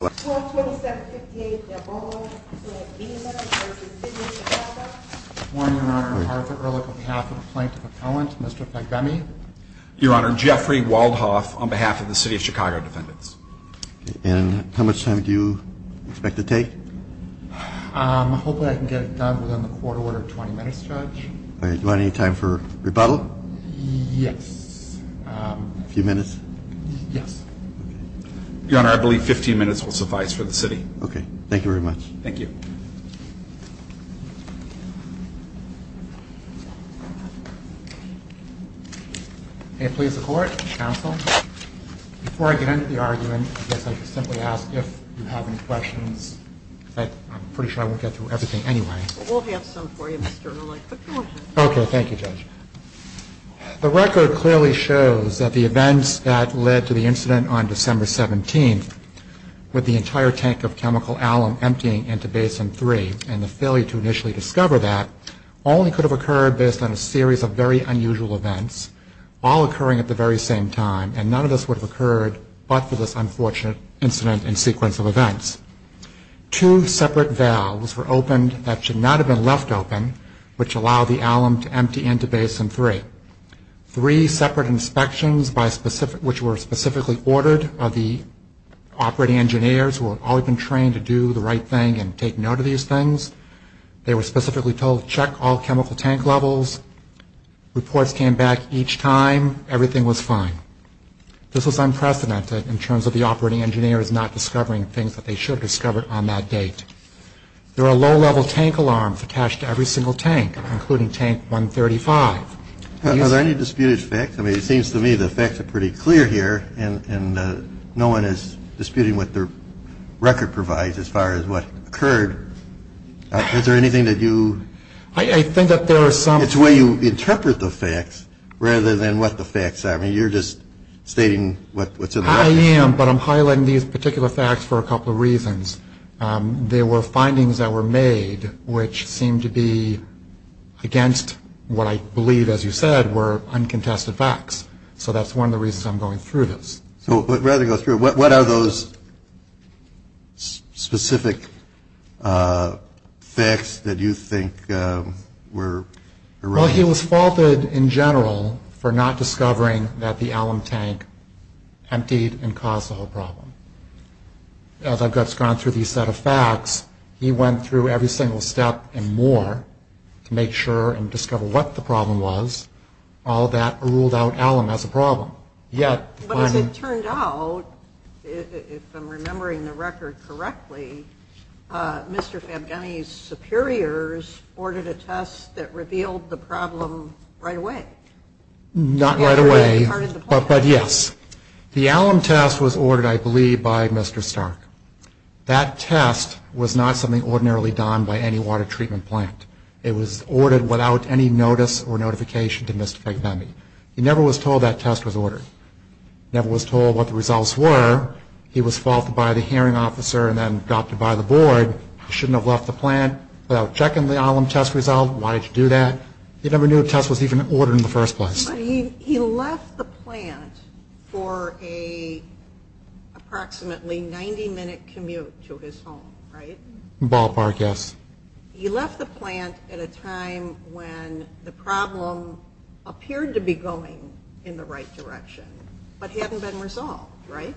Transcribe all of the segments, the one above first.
12-27-58, Del Bolo v. Beamer v. City of Chicago Good morning, Your Honor. I'm Arthur Ehrlich on behalf of the Plaintiff Appellant, Mr. Fagbemi. Your Honor, Jeffrey Waldhoff on behalf of the City of Chicago Defendants. And how much time do you expect to take? Hopefully I can get it done within the court order of 20 minutes, Judge. Do you want any time for rebuttal? Yes. A few minutes? Yes. Your Honor, I believe 15 minutes will suffice for the city. Okay. Thank you very much. Thank you. May it please the Court, Counsel. Before I get into the argument, I guess I could simply ask if you have any questions. I'm pretty sure I won't get through everything anyway. We'll have some for you, Mr. Ehrlich. Okay. Thank you, Judge. The record clearly shows that the events that led to the incident on December 17th, with the entire tank of chemical alum emptying into Basin 3 and the failure to initially discover that, only could have occurred based on a series of very unusual events, all occurring at the very same time, and none of this would have occurred but for this unfortunate incident and sequence of events. Two separate valves were opened that should not have been left open, which allowed the alum to empty into Basin 3. Three separate inspections, which were specifically ordered by the operating engineers, who had all been trained to do the right thing and take note of these things. They were specifically told to check all chemical tank levels. Reports came back each time. Everything was fine. This was unprecedented in terms of the operating engineers not discovering things that they should have discovered on that date. There are low-level tank alarms attached to every single tank, including tank 135. Are there any disputed facts? I mean, it seems to me the facts are pretty clear here and no one is disputing what the record provides as far as what occurred. Is there anything that you... I think that there are some... It's where you interpret the facts rather than what the facts are. I mean, you're just stating what's in the record. I am, but I'm highlighting these particular facts for a couple of reasons. There were findings that were made, which seemed to be against what I believe, as you said, were uncontested facts. So that's one of the reasons I'm going through this. So rather than go through it, what are those specific facts that you think were erroneous? Well, he was faulted, in general, for not discovering that the alum tank emptied and caused the whole problem. As I've gone through these set of facts, he went through every single step and more to make sure and discover what the problem was. All of that ruled out alum as a problem. But as it turned out, if I'm remembering the record correctly, Mr. Fabgani's superiors ordered a test that revealed the problem right away. Not right away, but yes. The alum test was ordered, I believe, by Mr. Stark. That test was not something ordinarily done by any water treatment plant. It was ordered without any notice or notification to Mr. Fabgani. He never was told that test was ordered. Never was told what the results were. He was faulted by the hearing officer and then adopted by the board. He shouldn't have left the plant without checking the alum test result. Why did you do that? He never knew a test was even ordered in the first place. He left the plant for an approximately 90-minute commute to his home, right? Ballpark, yes. He left the plant at a time when the problem appeared to be going in the right direction but hadn't been resolved, right?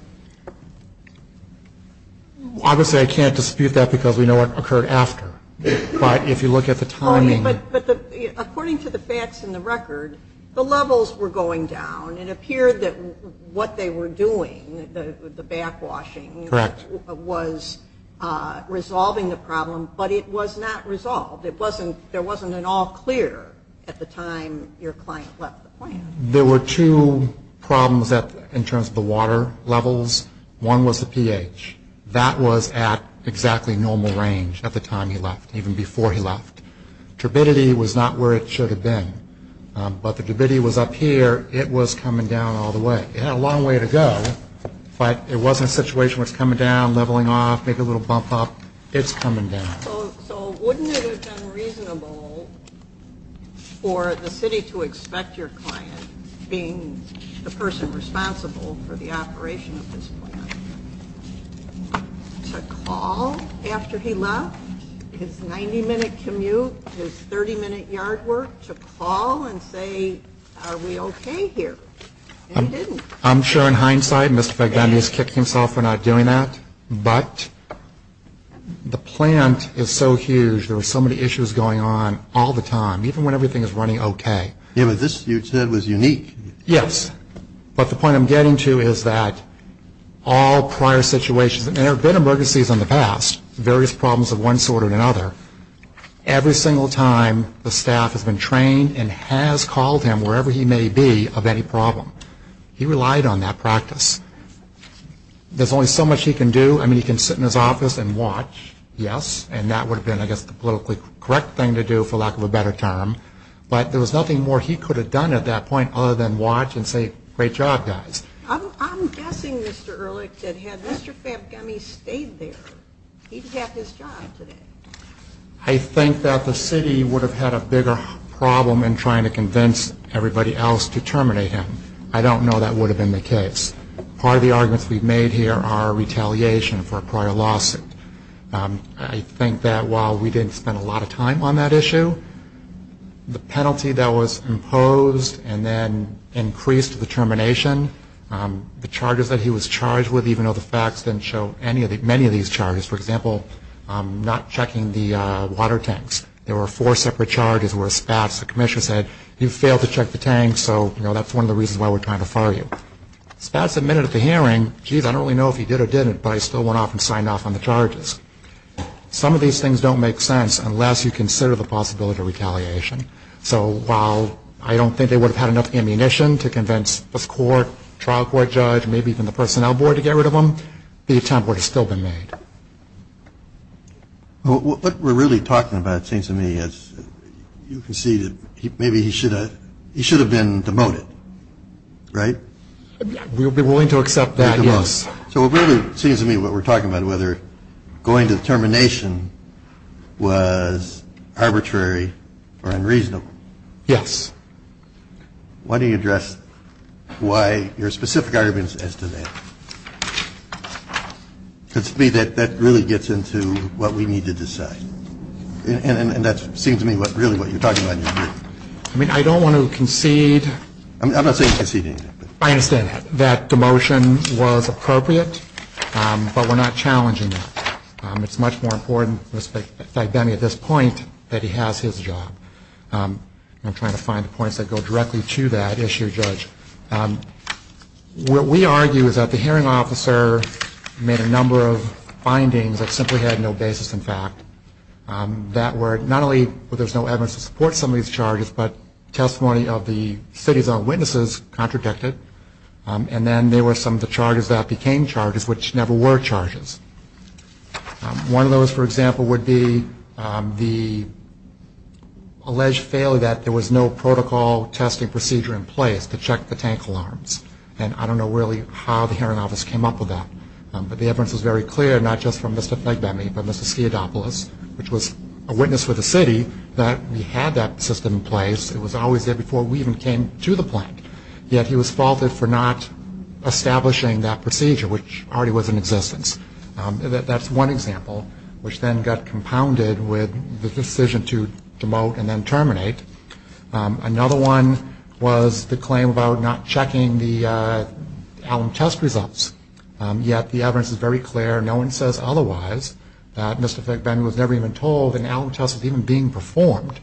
Obviously, I can't dispute that because we know what occurred after. But if you look at the timing. According to the facts in the record, the levels were going down. It appeared that what they were doing, the backwashing, was resolving the problem, but it was not resolved. There wasn't an all clear at the time your client left the plant. There were two problems in terms of the water levels. One was the pH. That was at exactly normal range at the time he left, even before he left. Turbidity was not where it should have been. But the turbidity was up here. It was coming down all the way. It had a long way to go, but it wasn't a situation where it's coming down, leveling off, make a little bump up. It's coming down. So wouldn't it have been reasonable for the city to expect your client, being the person responsible for the operation of this plant, to call after he left his 90-minute commute, his 30-minute yard work, to call and say, are we okay here? And he didn't. I'm sure in hindsight, Mr. Fagdani has kicked himself for not doing that. But the plant is so huge, there are so many issues going on all the time, even when everything is running okay. Yeah, but this, you said, was unique. Yes. But the point I'm getting to is that all prior situations, and there have been emergencies in the past, various problems of one sort or another, every single time the staff has been trained and has called him wherever he may be of any problem. He relied on that practice. There's only so much he can do. I mean, he can sit in his office and watch, yes, and that would have been, I guess, the politically correct thing to do, for lack of a better term. But there was nothing more he could have done at that point other than watch and say, great job, guys. I'm guessing, Mr. Ehrlich, that had Mr. Fagdani stayed there, he'd have his job today. I think that the city would have had a bigger problem in trying to convince everybody else to terminate him. I don't know that would have been the case. Part of the arguments we've made here are retaliation for a prior lawsuit. I think that while we didn't spend a lot of time on that issue, the penalty that was imposed and then increased the termination, the charges that he was charged with, even though the facts didn't show many of these charges, for example, not checking the water tanks. There were four separate charges where Spatz, the commissioner, said, you failed to check the tanks, so that's one of the reasons why we're trying to fire you. Spatz admitted at the hearing, geez, I don't really know if he did or didn't, but I still went off and signed off on the charges. Some of these things don't make sense unless you consider the possibility of retaliation. So while I don't think they would have had enough ammunition to convince this court, trial court judge, maybe even the personnel board to get rid of him, the attempt would have still been made. What we're really talking about, it seems to me, is you can see that maybe he should have been demoted, right? We would be willing to accept that, yes. So it really seems to me what we're talking about, whether going to the termination was arbitrary or unreasonable. Yes. Why don't you address why your specific arguments as to that? Because to me, that really gets into what we need to decide. And that seems to me really what you're talking about here. I mean, I don't want to concede. I'm not saying concede anything. I understand that. That demotion was appropriate, but we're not challenging that. It's much more important, in fact, to me at this point, that he has his job. I'm trying to find the points that go directly to that issue, Judge. What we argue is that the hearing officer made a number of findings that simply had no basis in fact, that were not only that there's no evidence to support some of these charges, but testimony of the city's own witnesses contradicted. And then there were some of the charges that became charges, which never were charges. One of those, for example, would be the alleged failure that there was no protocol testing procedure in place to check the tank alarms. And I don't know really how the hearing office came up with that. But the evidence was very clear, not just from Mr. Fegbemme, but Mr. Skiadopoulos, which was a witness for the city that we had that system in place. It was always there before we even came to the plant. Yet he was faulted for not establishing that procedure, which already was in existence. That's one example, which then got compounded with the decision to demote and then terminate. Another one was the claim about not checking the alarm test results. Yet the evidence is very clear. No one says otherwise. Mr. Fegbemme was never even told an alarm test was even being performed.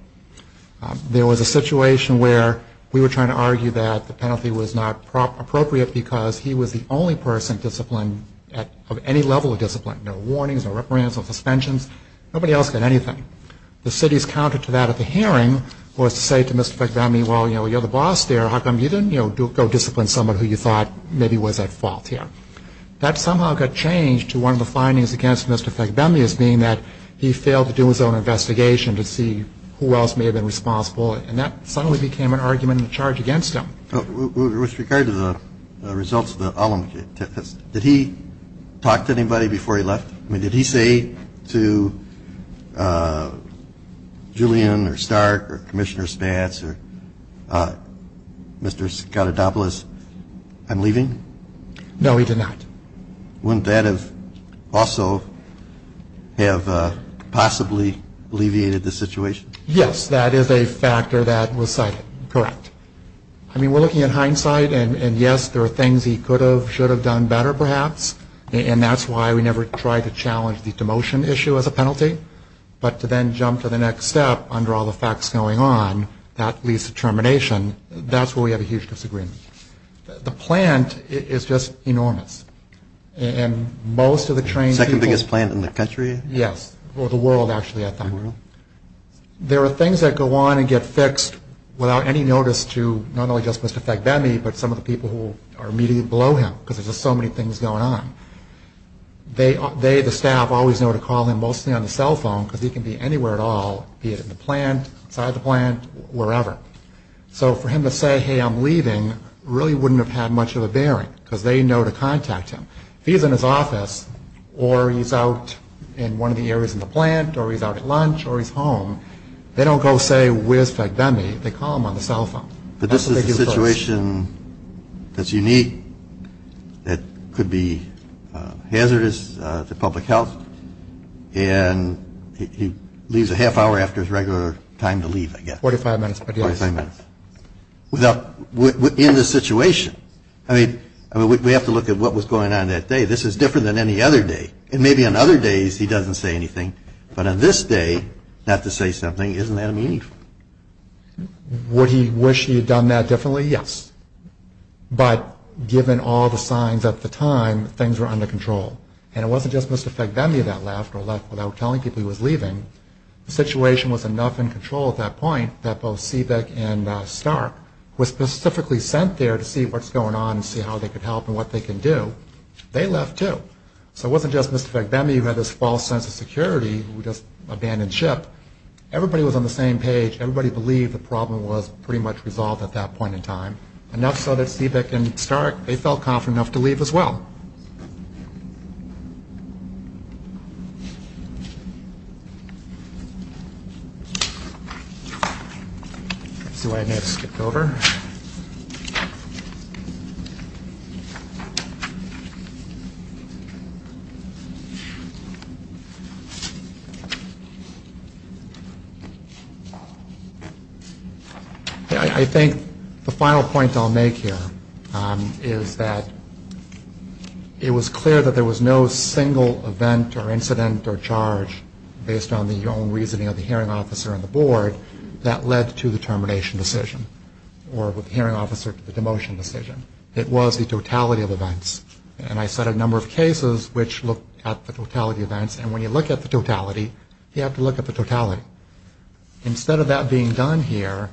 There was a situation where we were trying to argue that the penalty was not appropriate because he was the only person disciplined at any level of discipline. No warnings, no reprimands, no suspensions. Nobody else got anything. The city's counter to that at the hearing was to say to Mr. Fegbemme, well, you know, you're the boss there. How come you didn't go discipline someone who you thought maybe was at fault here? That somehow got changed to one of the findings against Mr. Fegbemme as being that he failed to do his own investigation to see who else may have been responsible, and that suddenly became an argument in charge against him. With regard to the results of the alarm test, did he talk to anybody before he left? I mean, did he say to Julian or Stark or Commissioner Spatz or Mr. Scottadopoulos, I'm leaving? No, he did not. Wouldn't that have also have possibly alleviated the situation? Yes, that is a factor that was cited. Correct. I mean, we're looking at hindsight, and, yes, there are things he could have, should have done better perhaps, and that's why we never tried to challenge the demotion issue as a penalty. But to then jump to the next step under all the facts going on, that leads to termination. That's where we have a huge disagreement. The plant is just enormous, and most of the trained people Second biggest plant in the country? Yes, or the world, actually, I think. There are things that go on and get fixed without any notice to not only just Mr. Fegbemme, but some of the people who are immediately below him, because there's just so many things going on. They, the staff, always know to call him, mostly on the cell phone, because he can be anywhere at all, be it in the plant, inside the plant, wherever. So for him to say, hey, I'm leaving, really wouldn't have had much of a bearing, because they know to contact him. If he's in his office or he's out in one of the areas in the plant or he's out at lunch or he's home, they don't go say, where's Fegbemme? They call him on the cell phone. But this is a situation that's unique, that could be hazardous to public health, and he leaves a half hour after his regular time to leave, I guess. Forty-five minutes, but yes. Forty-five minutes. In this situation, I mean, we have to look at what was going on that day. This is different than any other day, and maybe on other days he doesn't say anything, but on this day, not to say something, isn't that meaningful? Would he wish he had done that differently? Yes. But given all the signs at the time, things were under control. And it wasn't just Mr. Fegbemme that left, or left without telling people he was leaving. The situation was enough in control at that point that both Seebeck and Stark were specifically sent there to see what's going on and see how they could help and what they could do. They left too. So it wasn't just Mr. Fegbemme who had this false sense of security, who just abandoned ship. But everybody was on the same page. Everybody believed the problem was pretty much resolved at that point in time. Enough so that Seebeck and Stark, they felt confident enough to leave as well. I think the final point I'll make here is that it was clear that there was no single event or incident or charge, based on the own reasoning of the hearing officer and the board, that led to the termination decision, or the hearing officer to the demotion decision. It was the totality of events. And I cited a number of cases which looked at the totality of events. And when you look at the totality, you have to look at the totality. Instead of that being done here,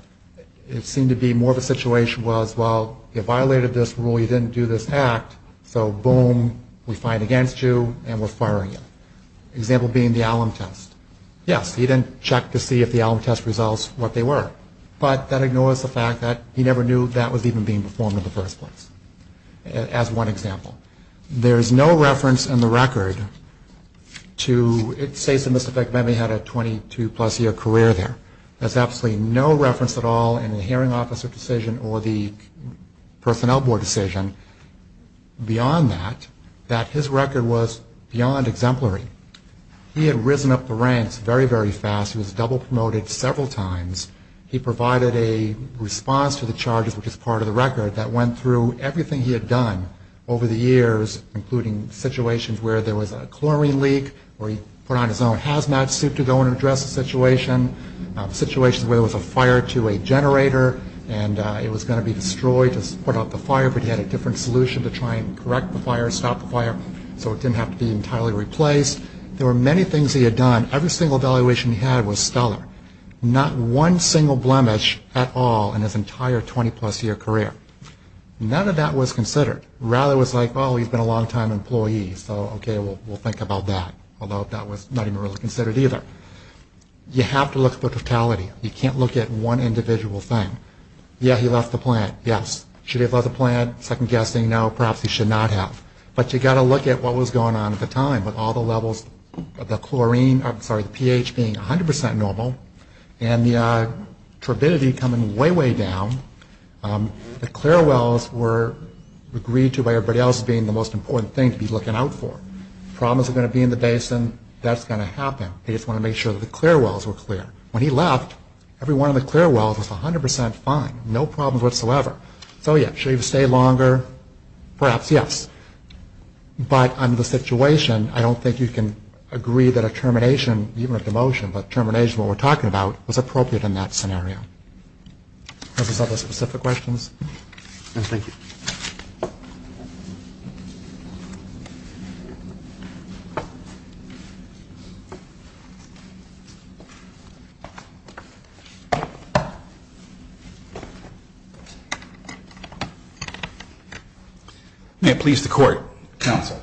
it seemed to be more of a situation was, well, you violated this rule, you didn't do this act, so boom, we're fined against you and we're firing you. Example being the alum test. Yes, he didn't check to see if the alum test results were what they were, but that ignores the fact that he never knew that was even being performed in the first place, as one example. There is no reference in the record to it states that Mr. Fegbemme had a 22-plus year career there. There's absolutely no reference at all in the hearing officer decision or the personnel board decision beyond that, that his record was beyond exemplary. He had risen up the ranks very, very fast. He was double promoted several times. He provided a response to the charges, which is part of the record, that went through everything he had done over the years, including situations where there was a chlorine leak or he put on his own hazmat suit to go and address a situation, situations where there was a fire to a generator and it was going to be destroyed to put out the fire, but he had a different solution to try and correct the fire, stop the fire, so it didn't have to be entirely replaced. There were many things he had done. Every single evaluation he had was stellar. Not one single blemish at all in his entire 20-plus year career. None of that was considered. Rather it was like, oh, he's been a long-time employee, so okay, we'll think about that, although that was not even really considered either. You have to look at the totality. You can't look at one individual thing. Yeah, he left the plant, yes. Should he have left the plant? Second guessing, no, perhaps he should not have. But you've got to look at what was going on at the time with all the levels of the chlorine, I'm sorry, the pH being 100% normal and the turbidity coming way, way down. The clear wells were agreed to by everybody else as being the most important thing to be looking out for. If problems are going to be in the basin, that's going to happen. They just want to make sure that the clear wells were clear. When he left, every one of the clear wells was 100% fine, no problems whatsoever. So, yeah, should he have stayed longer? Perhaps, yes. But under the situation, I don't think you can agree that a termination, even a demotion, but termination is what we're talking about, was appropriate in that scenario. Are there other specific questions? No, thank you. May it please the court, counsel.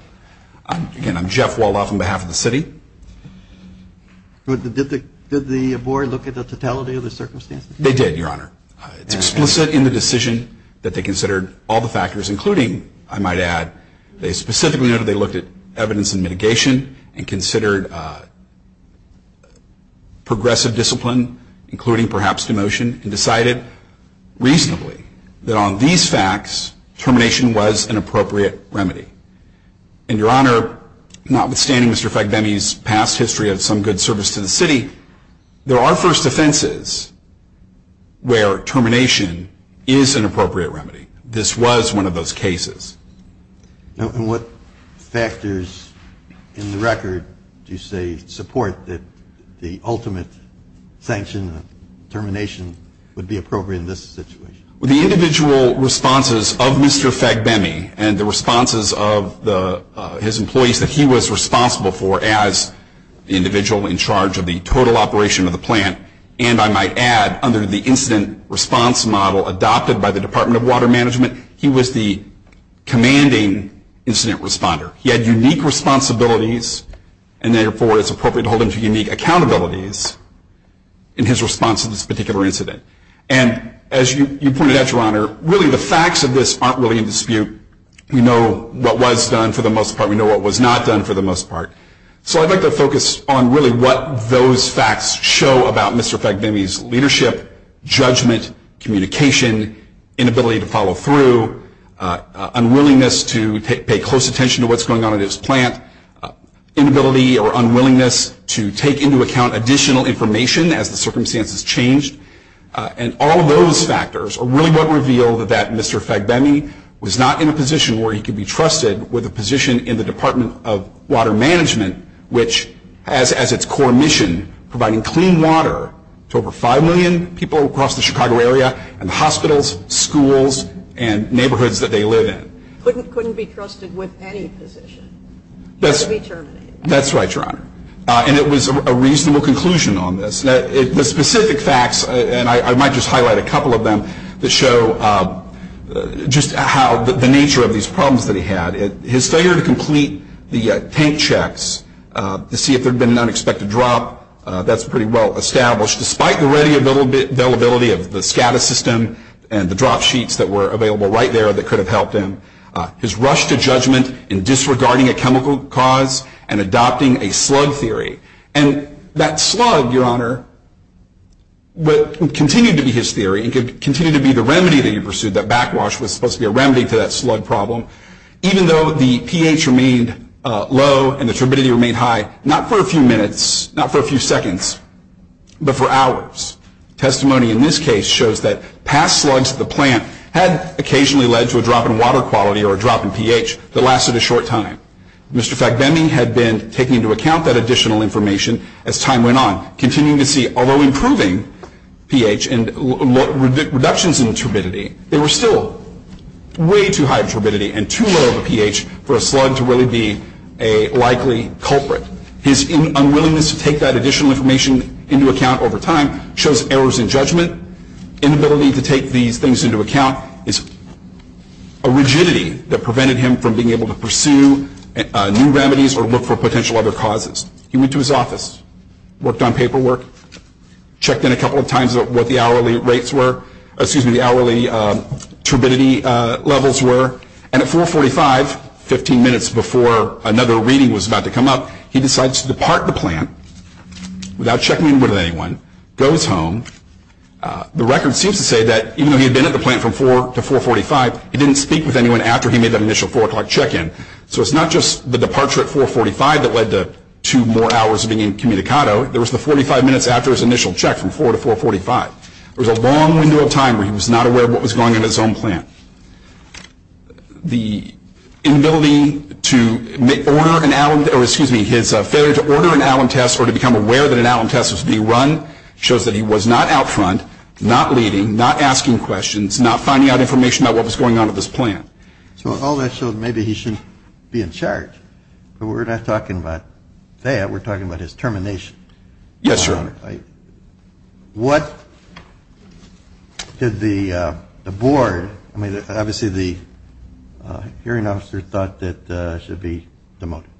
Again, I'm Jeff Walloff on behalf of the city. Did the board look at the totality of the circumstances? They did, Your Honor. It's explicit in the decision that they considered all the factors, including, I might add, they specifically noted they looked at evidence and mitigation and considered progressive discipline, including perhaps demotion, and decided reasonably that on these facts, termination was an appropriate remedy. And, Your Honor, notwithstanding Mr. Fagbemi's past history of some good service to the city, there are first offenses where termination is an appropriate remedy. This was one of those cases. And what factors in the record do you say support that the ultimate sanction of termination would be appropriate in this situation? The individual responses of Mr. Fagbemi and the responses of his employees that he was responsible for as the individual in charge of the total operation of the plant, and, I might add, under the incident response model adopted by the Department of Water Management, he was the commanding incident responder. He had unique responsibilities, and, therefore, it's appropriate to hold him to unique accountabilities in his response to this particular incident. And, as you pointed out, Your Honor, really the facts of this aren't really in dispute. We know what was done for the most part. We know what was not done for the most part. So I'd like to focus on really what those facts show about Mr. Fagbemi's leadership, judgment, communication, inability to follow through, unwillingness to pay close attention to what's going on in his plant, inability or unwillingness to take into account additional information as the circumstances changed. And all of those factors are really what reveal that Mr. Fagbemi was not in a position where he could be trusted with a position in the Department of Water Management, which has as its core mission providing clean water to over 5 million people across the Chicago area and the hospitals, schools, and neighborhoods that they live in. He couldn't be trusted with any position. He had to be terminated. That's right, Your Honor. And it was a reasonable conclusion on this. The specific facts, and I might just highlight a couple of them, that show just how the nature of these problems that he had. His failure to complete the tank checks to see if there had been an unexpected drop, that's pretty well established, despite the ready availability of the SCADA system and the drop sheets that were available right there that could have helped him. His rush to judgment in disregarding a chemical cause and adopting a slug theory. And that slug, Your Honor, continued to be his theory. It continued to be the remedy that he pursued. That backwash was supposed to be a remedy to that slug problem. Even though the pH remained low and the turbidity remained high, not for a few minutes, not for a few seconds, but for hours. Testimony in this case shows that past slugs at the plant had occasionally led to a drop in water quality or a drop in pH that lasted a short time. Mr. Fagbending had been taking into account that additional information as time went on, continuing to see, although improving pH and reductions in turbidity, they were still way too high of a turbidity and too low of a pH for a slug to really be a likely culprit. His unwillingness to take that additional information into account over time shows errors in judgment. Inability to take these things into account is a rigidity that prevented him from being able to pursue new remedies or look for potential other causes. He went to his office, worked on paperwork, checked in a couple of times what the hourly rates were, excuse me, the hourly turbidity levels were, and at 4.45, 15 minutes before another reading was about to come up, he decides to depart the plant without checking in with anyone, goes home. The record seems to say that even though he had been at the plant from 4 to 4.45, he didn't speak with anyone after he made that initial 4 o'clock check-in. So it's not just the departure at 4.45 that led to two more hours of being incommunicado. There was the 45 minutes after his initial check from 4 to 4.45. There was a long window of time where he was not aware of what was going on at his own plant. The inability to order an Allen, or excuse me, his failure to order an Allen test or to become aware that an Allen test was being run shows that he was not out front, not leading, not asking questions, not finding out information about what was going on at this plant. So all that shows maybe he shouldn't be in charge. But we're not talking about that. We're talking about his termination. Yes, sir. Your Honor, what did the board, I mean, obviously the hearing officer thought that should be demoted.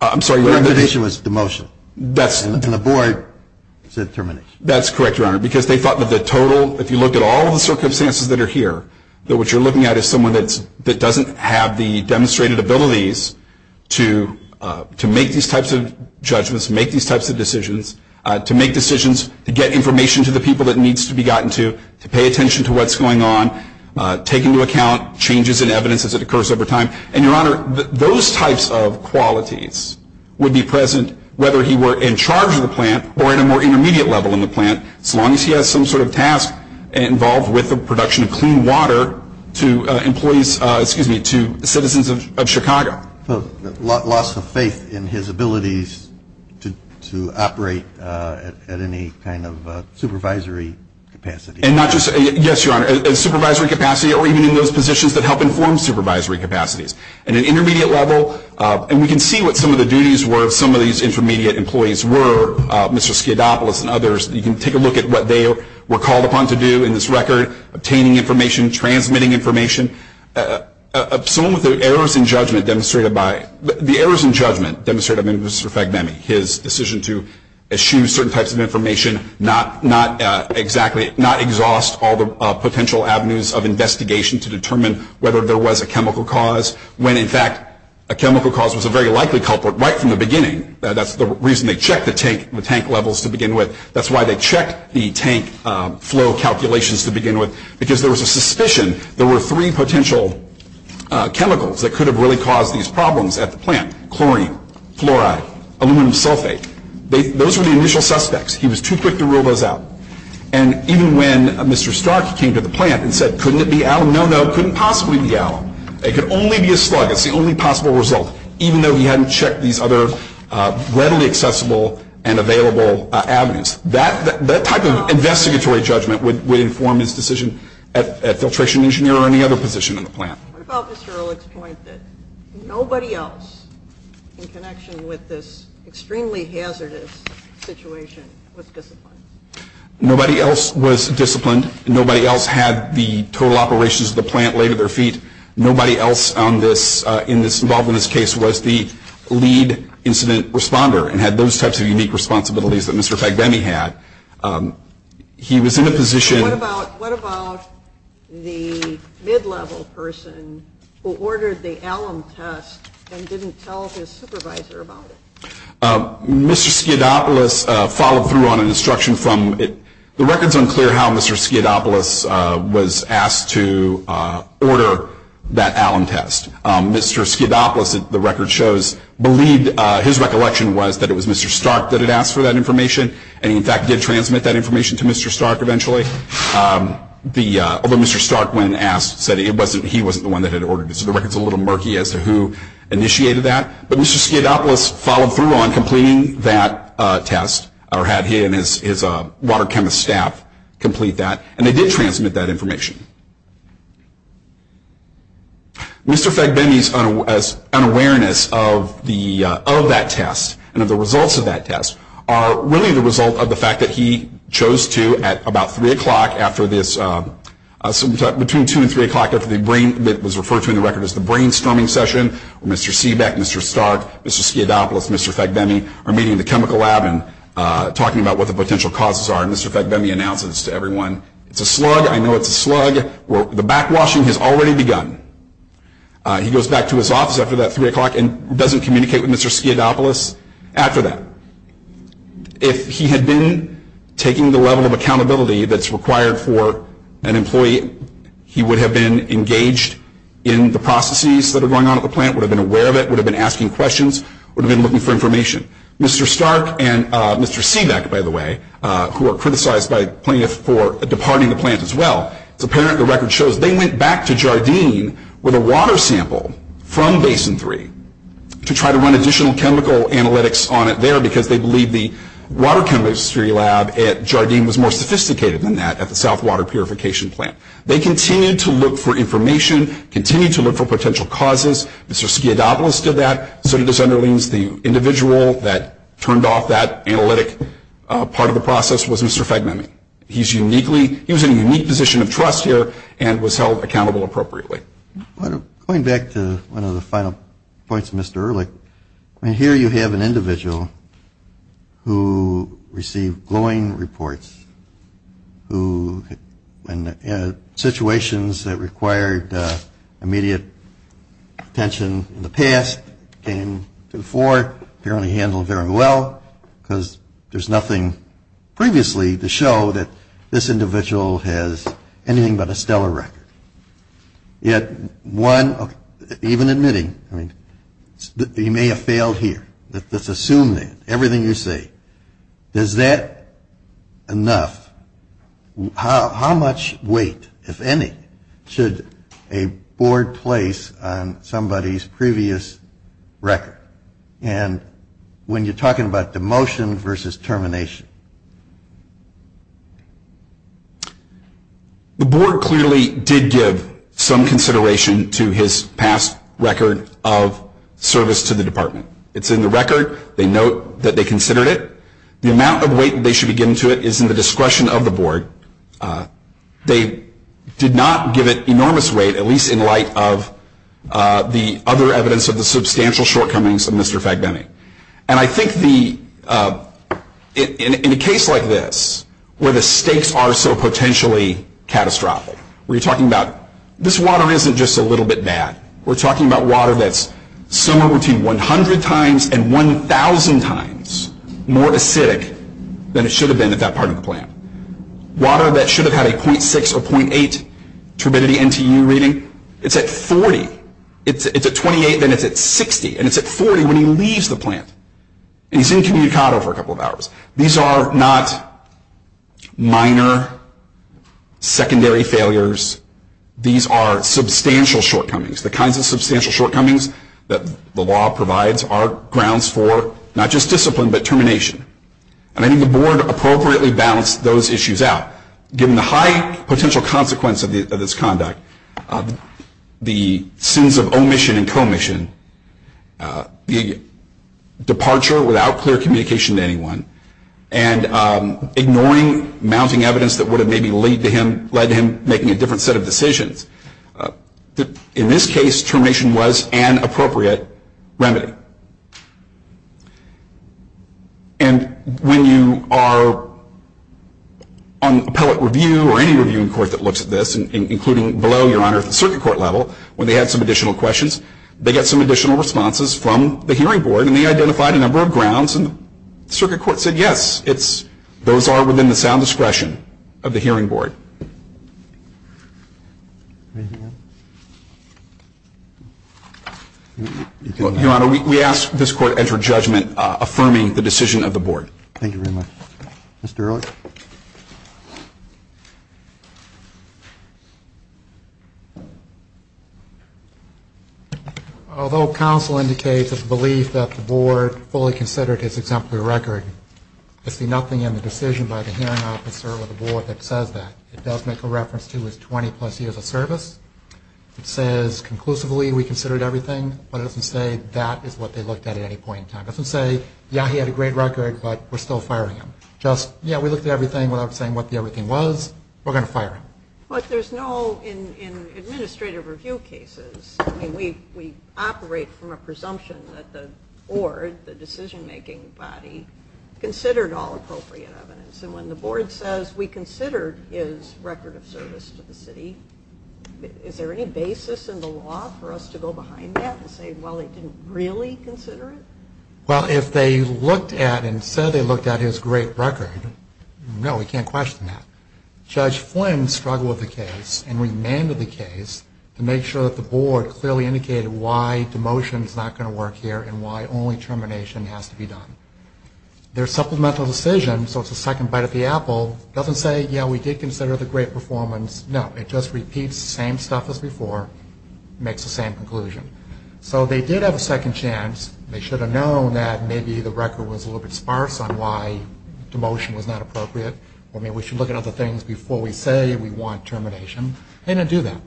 I'm sorry. Your definition was demotion. And the board said termination. That's correct, Your Honor, because they thought that the total, if you look at all the circumstances that are here, that what you're looking at is someone that doesn't have the demonstrated abilities to make these types of judgments, make these types of decisions, to make decisions, to get information to the people it needs to be gotten to, to pay attention to what's going on, take into account changes in evidence as it occurs over time. And, Your Honor, those types of qualities would be present whether he were in charge of the plant as long as he has some sort of task involved with the production of clean water to employees, excuse me, to citizens of Chicago. Loss of faith in his abilities to operate at any kind of supervisory capacity. And not just, yes, Your Honor, a supervisory capacity or even in those positions that help inform supervisory capacities. At an intermediate level, and we can see what some of the duties were of some of these intermediate employees were, Mr. Skiadopoulos and others, you can take a look at what they were called upon to do in this record, obtaining information, transmitting information. Some of the errors in judgment demonstrated by Mr. Fagnemi, his decision to eschew certain types of information, not exhaust all the potential avenues of investigation to determine whether there was a chemical cause, when, in fact, a chemical cause was a very likely culprit right from the beginning. That's the reason they checked the tank levels to begin with. That's why they checked the tank flow calculations to begin with, because there was a suspicion there were three potential chemicals that could have really caused these problems at the plant. Chlorine, fluoride, aluminum sulfate. Those were the initial suspects. He was too quick to rule those out. And even when Mr. Stark came to the plant and said, couldn't it be alum? No, no, it couldn't possibly be alum. It could only be a slug. It's the only possible result, even though he hadn't checked these other readily accessible and available avenues. That type of investigatory judgment would inform his decision at filtration engineer or any other position in the plant. What about Mr. Ehrlich's point that nobody else in connection with this extremely hazardous situation was disciplined? Nobody else was disciplined. Nobody else had the total operations of the plant laid at their feet. Nobody else involved in this case was the lead incident responder and had those types of unique responsibilities that Mr. Fagbemi had. He was in a position- What about the mid-level person who ordered the alum test and didn't tell his supervisor about it? Mr. Skidopolis followed through on an instruction from- The record's unclear how Mr. Skidopolis was asked to order that alum test. Mr. Skidopolis, the record shows, believed- His recollection was that it was Mr. Stark that had asked for that information. And he, in fact, did transmit that information to Mr. Stark eventually. Although Mr. Stark, when asked, said he wasn't the one that had ordered it. So the record's a little murky as to who initiated that. But Mr. Skidopolis followed through on completing that test, or had he and his water chemist staff complete that. And they did transmit that information. Mr. Fagbemi's unawareness of that test and of the results of that test are really the result of the fact that he chose to, at about 3 o'clock after this- between 2 and 3 o'clock after the brain- Mr. Stark, Mr. Skidopolis, Mr. Fagbemi are meeting in the chemical lab and talking about what the potential causes are. And Mr. Fagbemi announces to everyone, It's a slug, I know it's a slug, the backwashing has already begun. He goes back to his office after that 3 o'clock and doesn't communicate with Mr. Skidopolis after that. If he had been taking the level of accountability that's required for an employee, he would have been engaged in the processes that are going on at the plant, would have been aware of it, would have been asking questions, would have been looking for information. Mr. Stark and Mr. Seebeck, by the way, who are criticized by plaintiffs for departing the plant as well, it's apparent the record shows they went back to Jardine with a water sample from Basin 3 to try to run additional chemical analytics on it there because they believe the water chemistry lab at Jardine was more sophisticated than that at the South Water Purification Plant. They continue to look for information, continue to look for potential causes. Mr. Skidopolis did that. So it just underlines the individual that turned off that analytic part of the process was Mr. Fegmeme. He's uniquely, he was in a unique position of trust here and was held accountable appropriately. Going back to one of the final points of Mr. Ehrlich, here you have an individual who received glowing reports, who in situations that required immediate attention in the past, came to the fore, apparently handled very well because there's nothing previously to show that this individual has anything but a stellar record. Yet one, even admitting, he may have failed here, let's assume that, everything you say, is that enough? How much weight, if any, should a board place on somebody's previous record? And when you're talking about demotion versus termination? The board clearly did give some consideration to his past record of service to the department. It's in the record. They note that they considered it. The amount of weight they should be giving to it is in the discretion of the board. They did not give it enormous weight, at least in light of the other evidence of the substantial shortcomings of Mr. Fegmeme. And I think in a case like this, where the stakes are so potentially catastrophic, where you're talking about this water isn't just a little bit bad, we're talking about water that's somewhere between 100 times and 1,000 times more acidic than it should have been at that part of the plant. Water that should have had a 0.6 or 0.8 turbidity NTU reading, it's at 40. It's at 28, then it's at 60, and it's at 40 when he leaves the plant. And he's incommunicado for a couple of hours. These are not minor, secondary failures. These are substantial shortcomings. The kinds of substantial shortcomings that the law provides are grounds for not just discipline but termination. And I think the board appropriately balanced those issues out. Given the high potential consequence of this conduct, the sins of omission and commission, the departure without clear communication to anyone, and ignoring mounting evidence that would have maybe led to him making a different set of decisions, in this case, termination was an appropriate remedy. And when you are on appellate review or any reviewing court that looks at this, including below, Your Honor, the circuit court level, when they had some additional questions, they got some additional responses from the hearing board, and they identified a number of grounds. And the circuit court said, yes, those are within the sound discretion of the hearing board. Your Honor, we ask this court enter judgment affirming the decision of the board. Thank you very much. Mr. Ehrlich. Although counsel indicates a belief that the board fully considered his exemplary record, I see nothing in the decision by the hearing officer or the board that says that. It does make a reference to his 20-plus years of service. It says conclusively we considered everything, but it doesn't say that is what they looked at at any point in time. It doesn't say, yeah, he had a great record, but we're still firing him. Just, yeah, we looked at everything without saying what the everything was. We're going to fire him. But there's no in administrative review cases. I mean, we operate from a presumption that the board, the decision-making body, considered all appropriate evidence. And when the board says we considered his record of service to the city, is there any basis in the law for us to go behind that and say, well, they didn't really consider it? Well, if they looked at and said they looked at his great record, no, we can't question that. Judge Flynn struggled with the case and remanded the case to make sure that the board clearly indicated why demotion is not going to work here and why only termination has to be done. Their supplemental decision, so it's a second bite at the apple, doesn't say, yeah, we did consider the great performance. No, it just repeats the same stuff as before, makes the same conclusion. So they did have a second chance. They should have known that maybe the record was a little bit sparse on why demotion was not appropriate or maybe we should look at other things before we say we want termination. They didn't do that.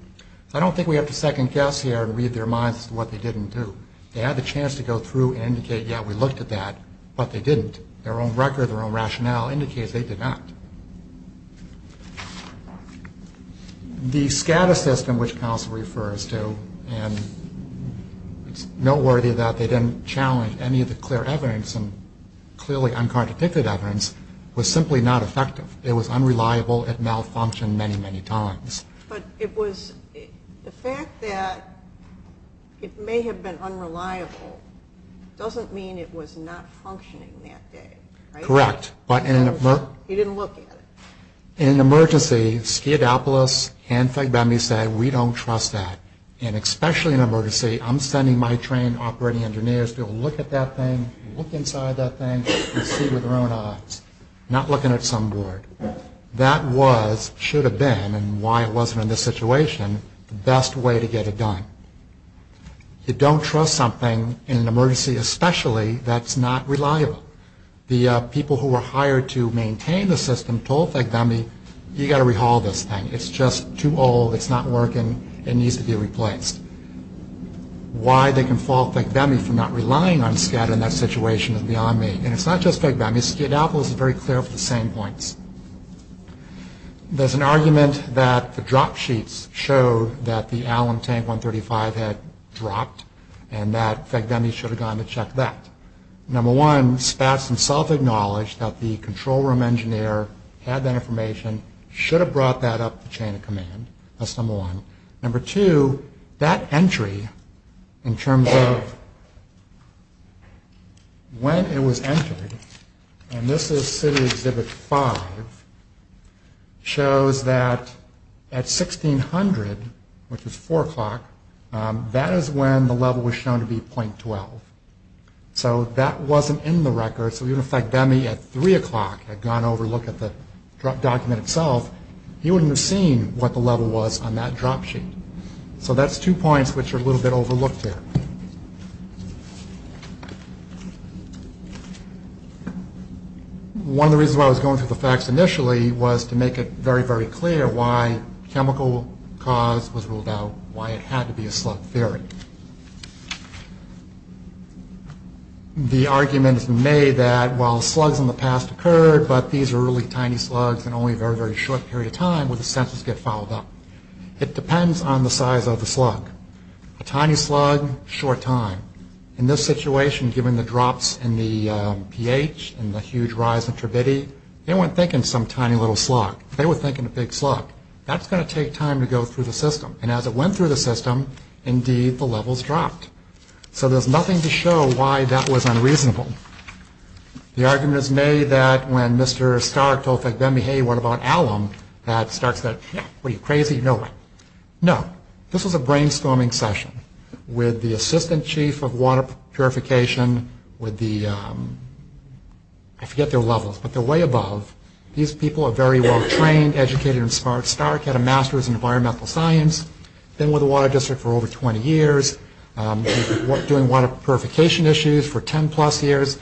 I don't think we have to second guess here and read their minds as to what they didn't do. They had the chance to go through and indicate, yeah, we looked at that, but they didn't. Their own record, their own rationale indicates they did not. The SCADA system, which counsel refers to, and it's noteworthy that they didn't challenge any of the clear evidence and clearly uncontradicted evidence, was simply not effective. It was unreliable. It malfunctioned many, many times. But it was the fact that it may have been unreliable doesn't mean it was not functioning that day, right? Correct. He didn't look at it. In an emergency, SCADAPOLIS and FEDME say we don't trust that. And especially in an emergency, I'm sending my trained operating engineers to look at that thing, look inside that thing, and see with their own eyes, not looking at some board. That was, should have been, and why it wasn't in this situation, the best way to get it done. You don't trust something in an emergency especially that's not reliable. The people who were hired to maintain the system told FEDME, you've got to rehaul this thing. It's just too old. It's not working. It needs to be replaced. Why they can fault FEDME for not relying on SCADA in that situation is beyond me. And it's not just FEDME. SCADAPOLIS is very clear of the same points. There's an argument that the drop sheets show that the Allen tank 135 had dropped and that FEDME should have gone to check that. Number one, Spatz himself acknowledged that the control room engineer had that information, should have brought that up the chain of command. That's number one. Number two, that entry in terms of when it was entered, and this is City Exhibit 5, shows that at 1600, which is 4 o'clock, that is when the level was shown to be .12. So that wasn't in the record. So even if FEDME at 3 o'clock had gone over to look at the document itself, he wouldn't have seen what the level was on that drop sheet. So that's two points which are a little bit overlooked here. One of the reasons why I was going through the facts initially was to make it very, very clear why chemical cause was ruled out, why it had to be a slug theory. The argument is made that while slugs in the past occurred, but these are really tiny slugs and only a very, very short period of time, would the census get followed up? It depends on the size of the slug. A tiny slug, short time. In this situation, given the drops in the pH and the huge rise in turbidity, they weren't thinking some tiny little slug. They were thinking a big slug. That's going to take time to go through the system. And as it went through the system, indeed, the levels dropped. So there's nothing to show why that was unreasonable. The argument is made that when Mr. Stark told FEDME, hey, what about alum, that Stark said, what are you, crazy? No way. No. This was a brainstorming session with the assistant chief of water purification with the, I forget their levels, but they're way above. These people are very well trained, educated, and smart. Stark had a master's in environmental science, been with the water district for over 20 years, doing water purification issues for 10-plus years.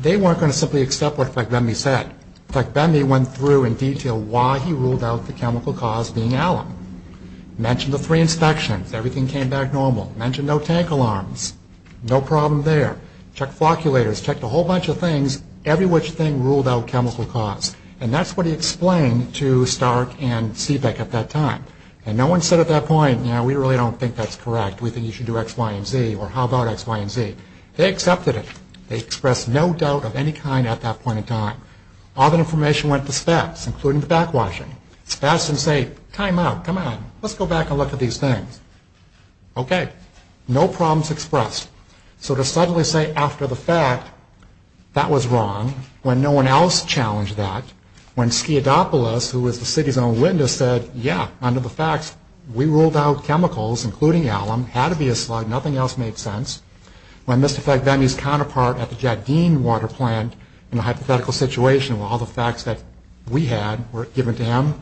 They weren't going to simply accept what Fleck-Bendy said. Fleck-Bendy went through in detail why he ruled out the chemical cause being alum. Mentioned the three inspections. Everything came back normal. Mentioned no tank alarms. No problem there. Checked flocculators. Checked a whole bunch of things, every which thing ruled out chemical cause. And that's what he explained to Stark and Seebeck at that time. And no one said at that point, you know, we really don't think that's correct. We think you should do X, Y, and Z, or how about X, Y, and Z. They accepted it. They expressed no doubt of any kind at that point in time. All that information went to SPACs, including the backwashing. SPACs didn't say, time out, come on, let's go back and look at these things. Okay. No problems expressed. So to suddenly say after the fact that was wrong, when no one else challenged that, when Sciadopoulos, who was the city's own witness, said, yeah, under the facts, we ruled out chemicals, including alum. Had to be a slug. Nothing else made sense. When Mr. Fagbeni's counterpart at the Jack Dean water plant, in a hypothetical situation where all the facts that we had were given to him,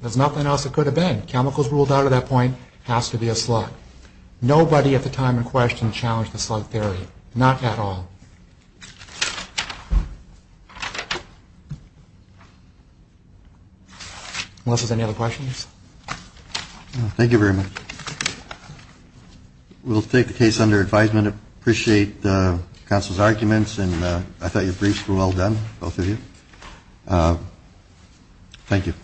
there's nothing else that could have been. Chemicals ruled out at that point. Has to be a slug. Nobody at the time in question challenged the slug theory. Not at all. Unless there's any other questions. Thank you very much. We'll take the case under advisement. Appreciate the council's arguments. And I thought your briefs were well done, both of you. Thank you.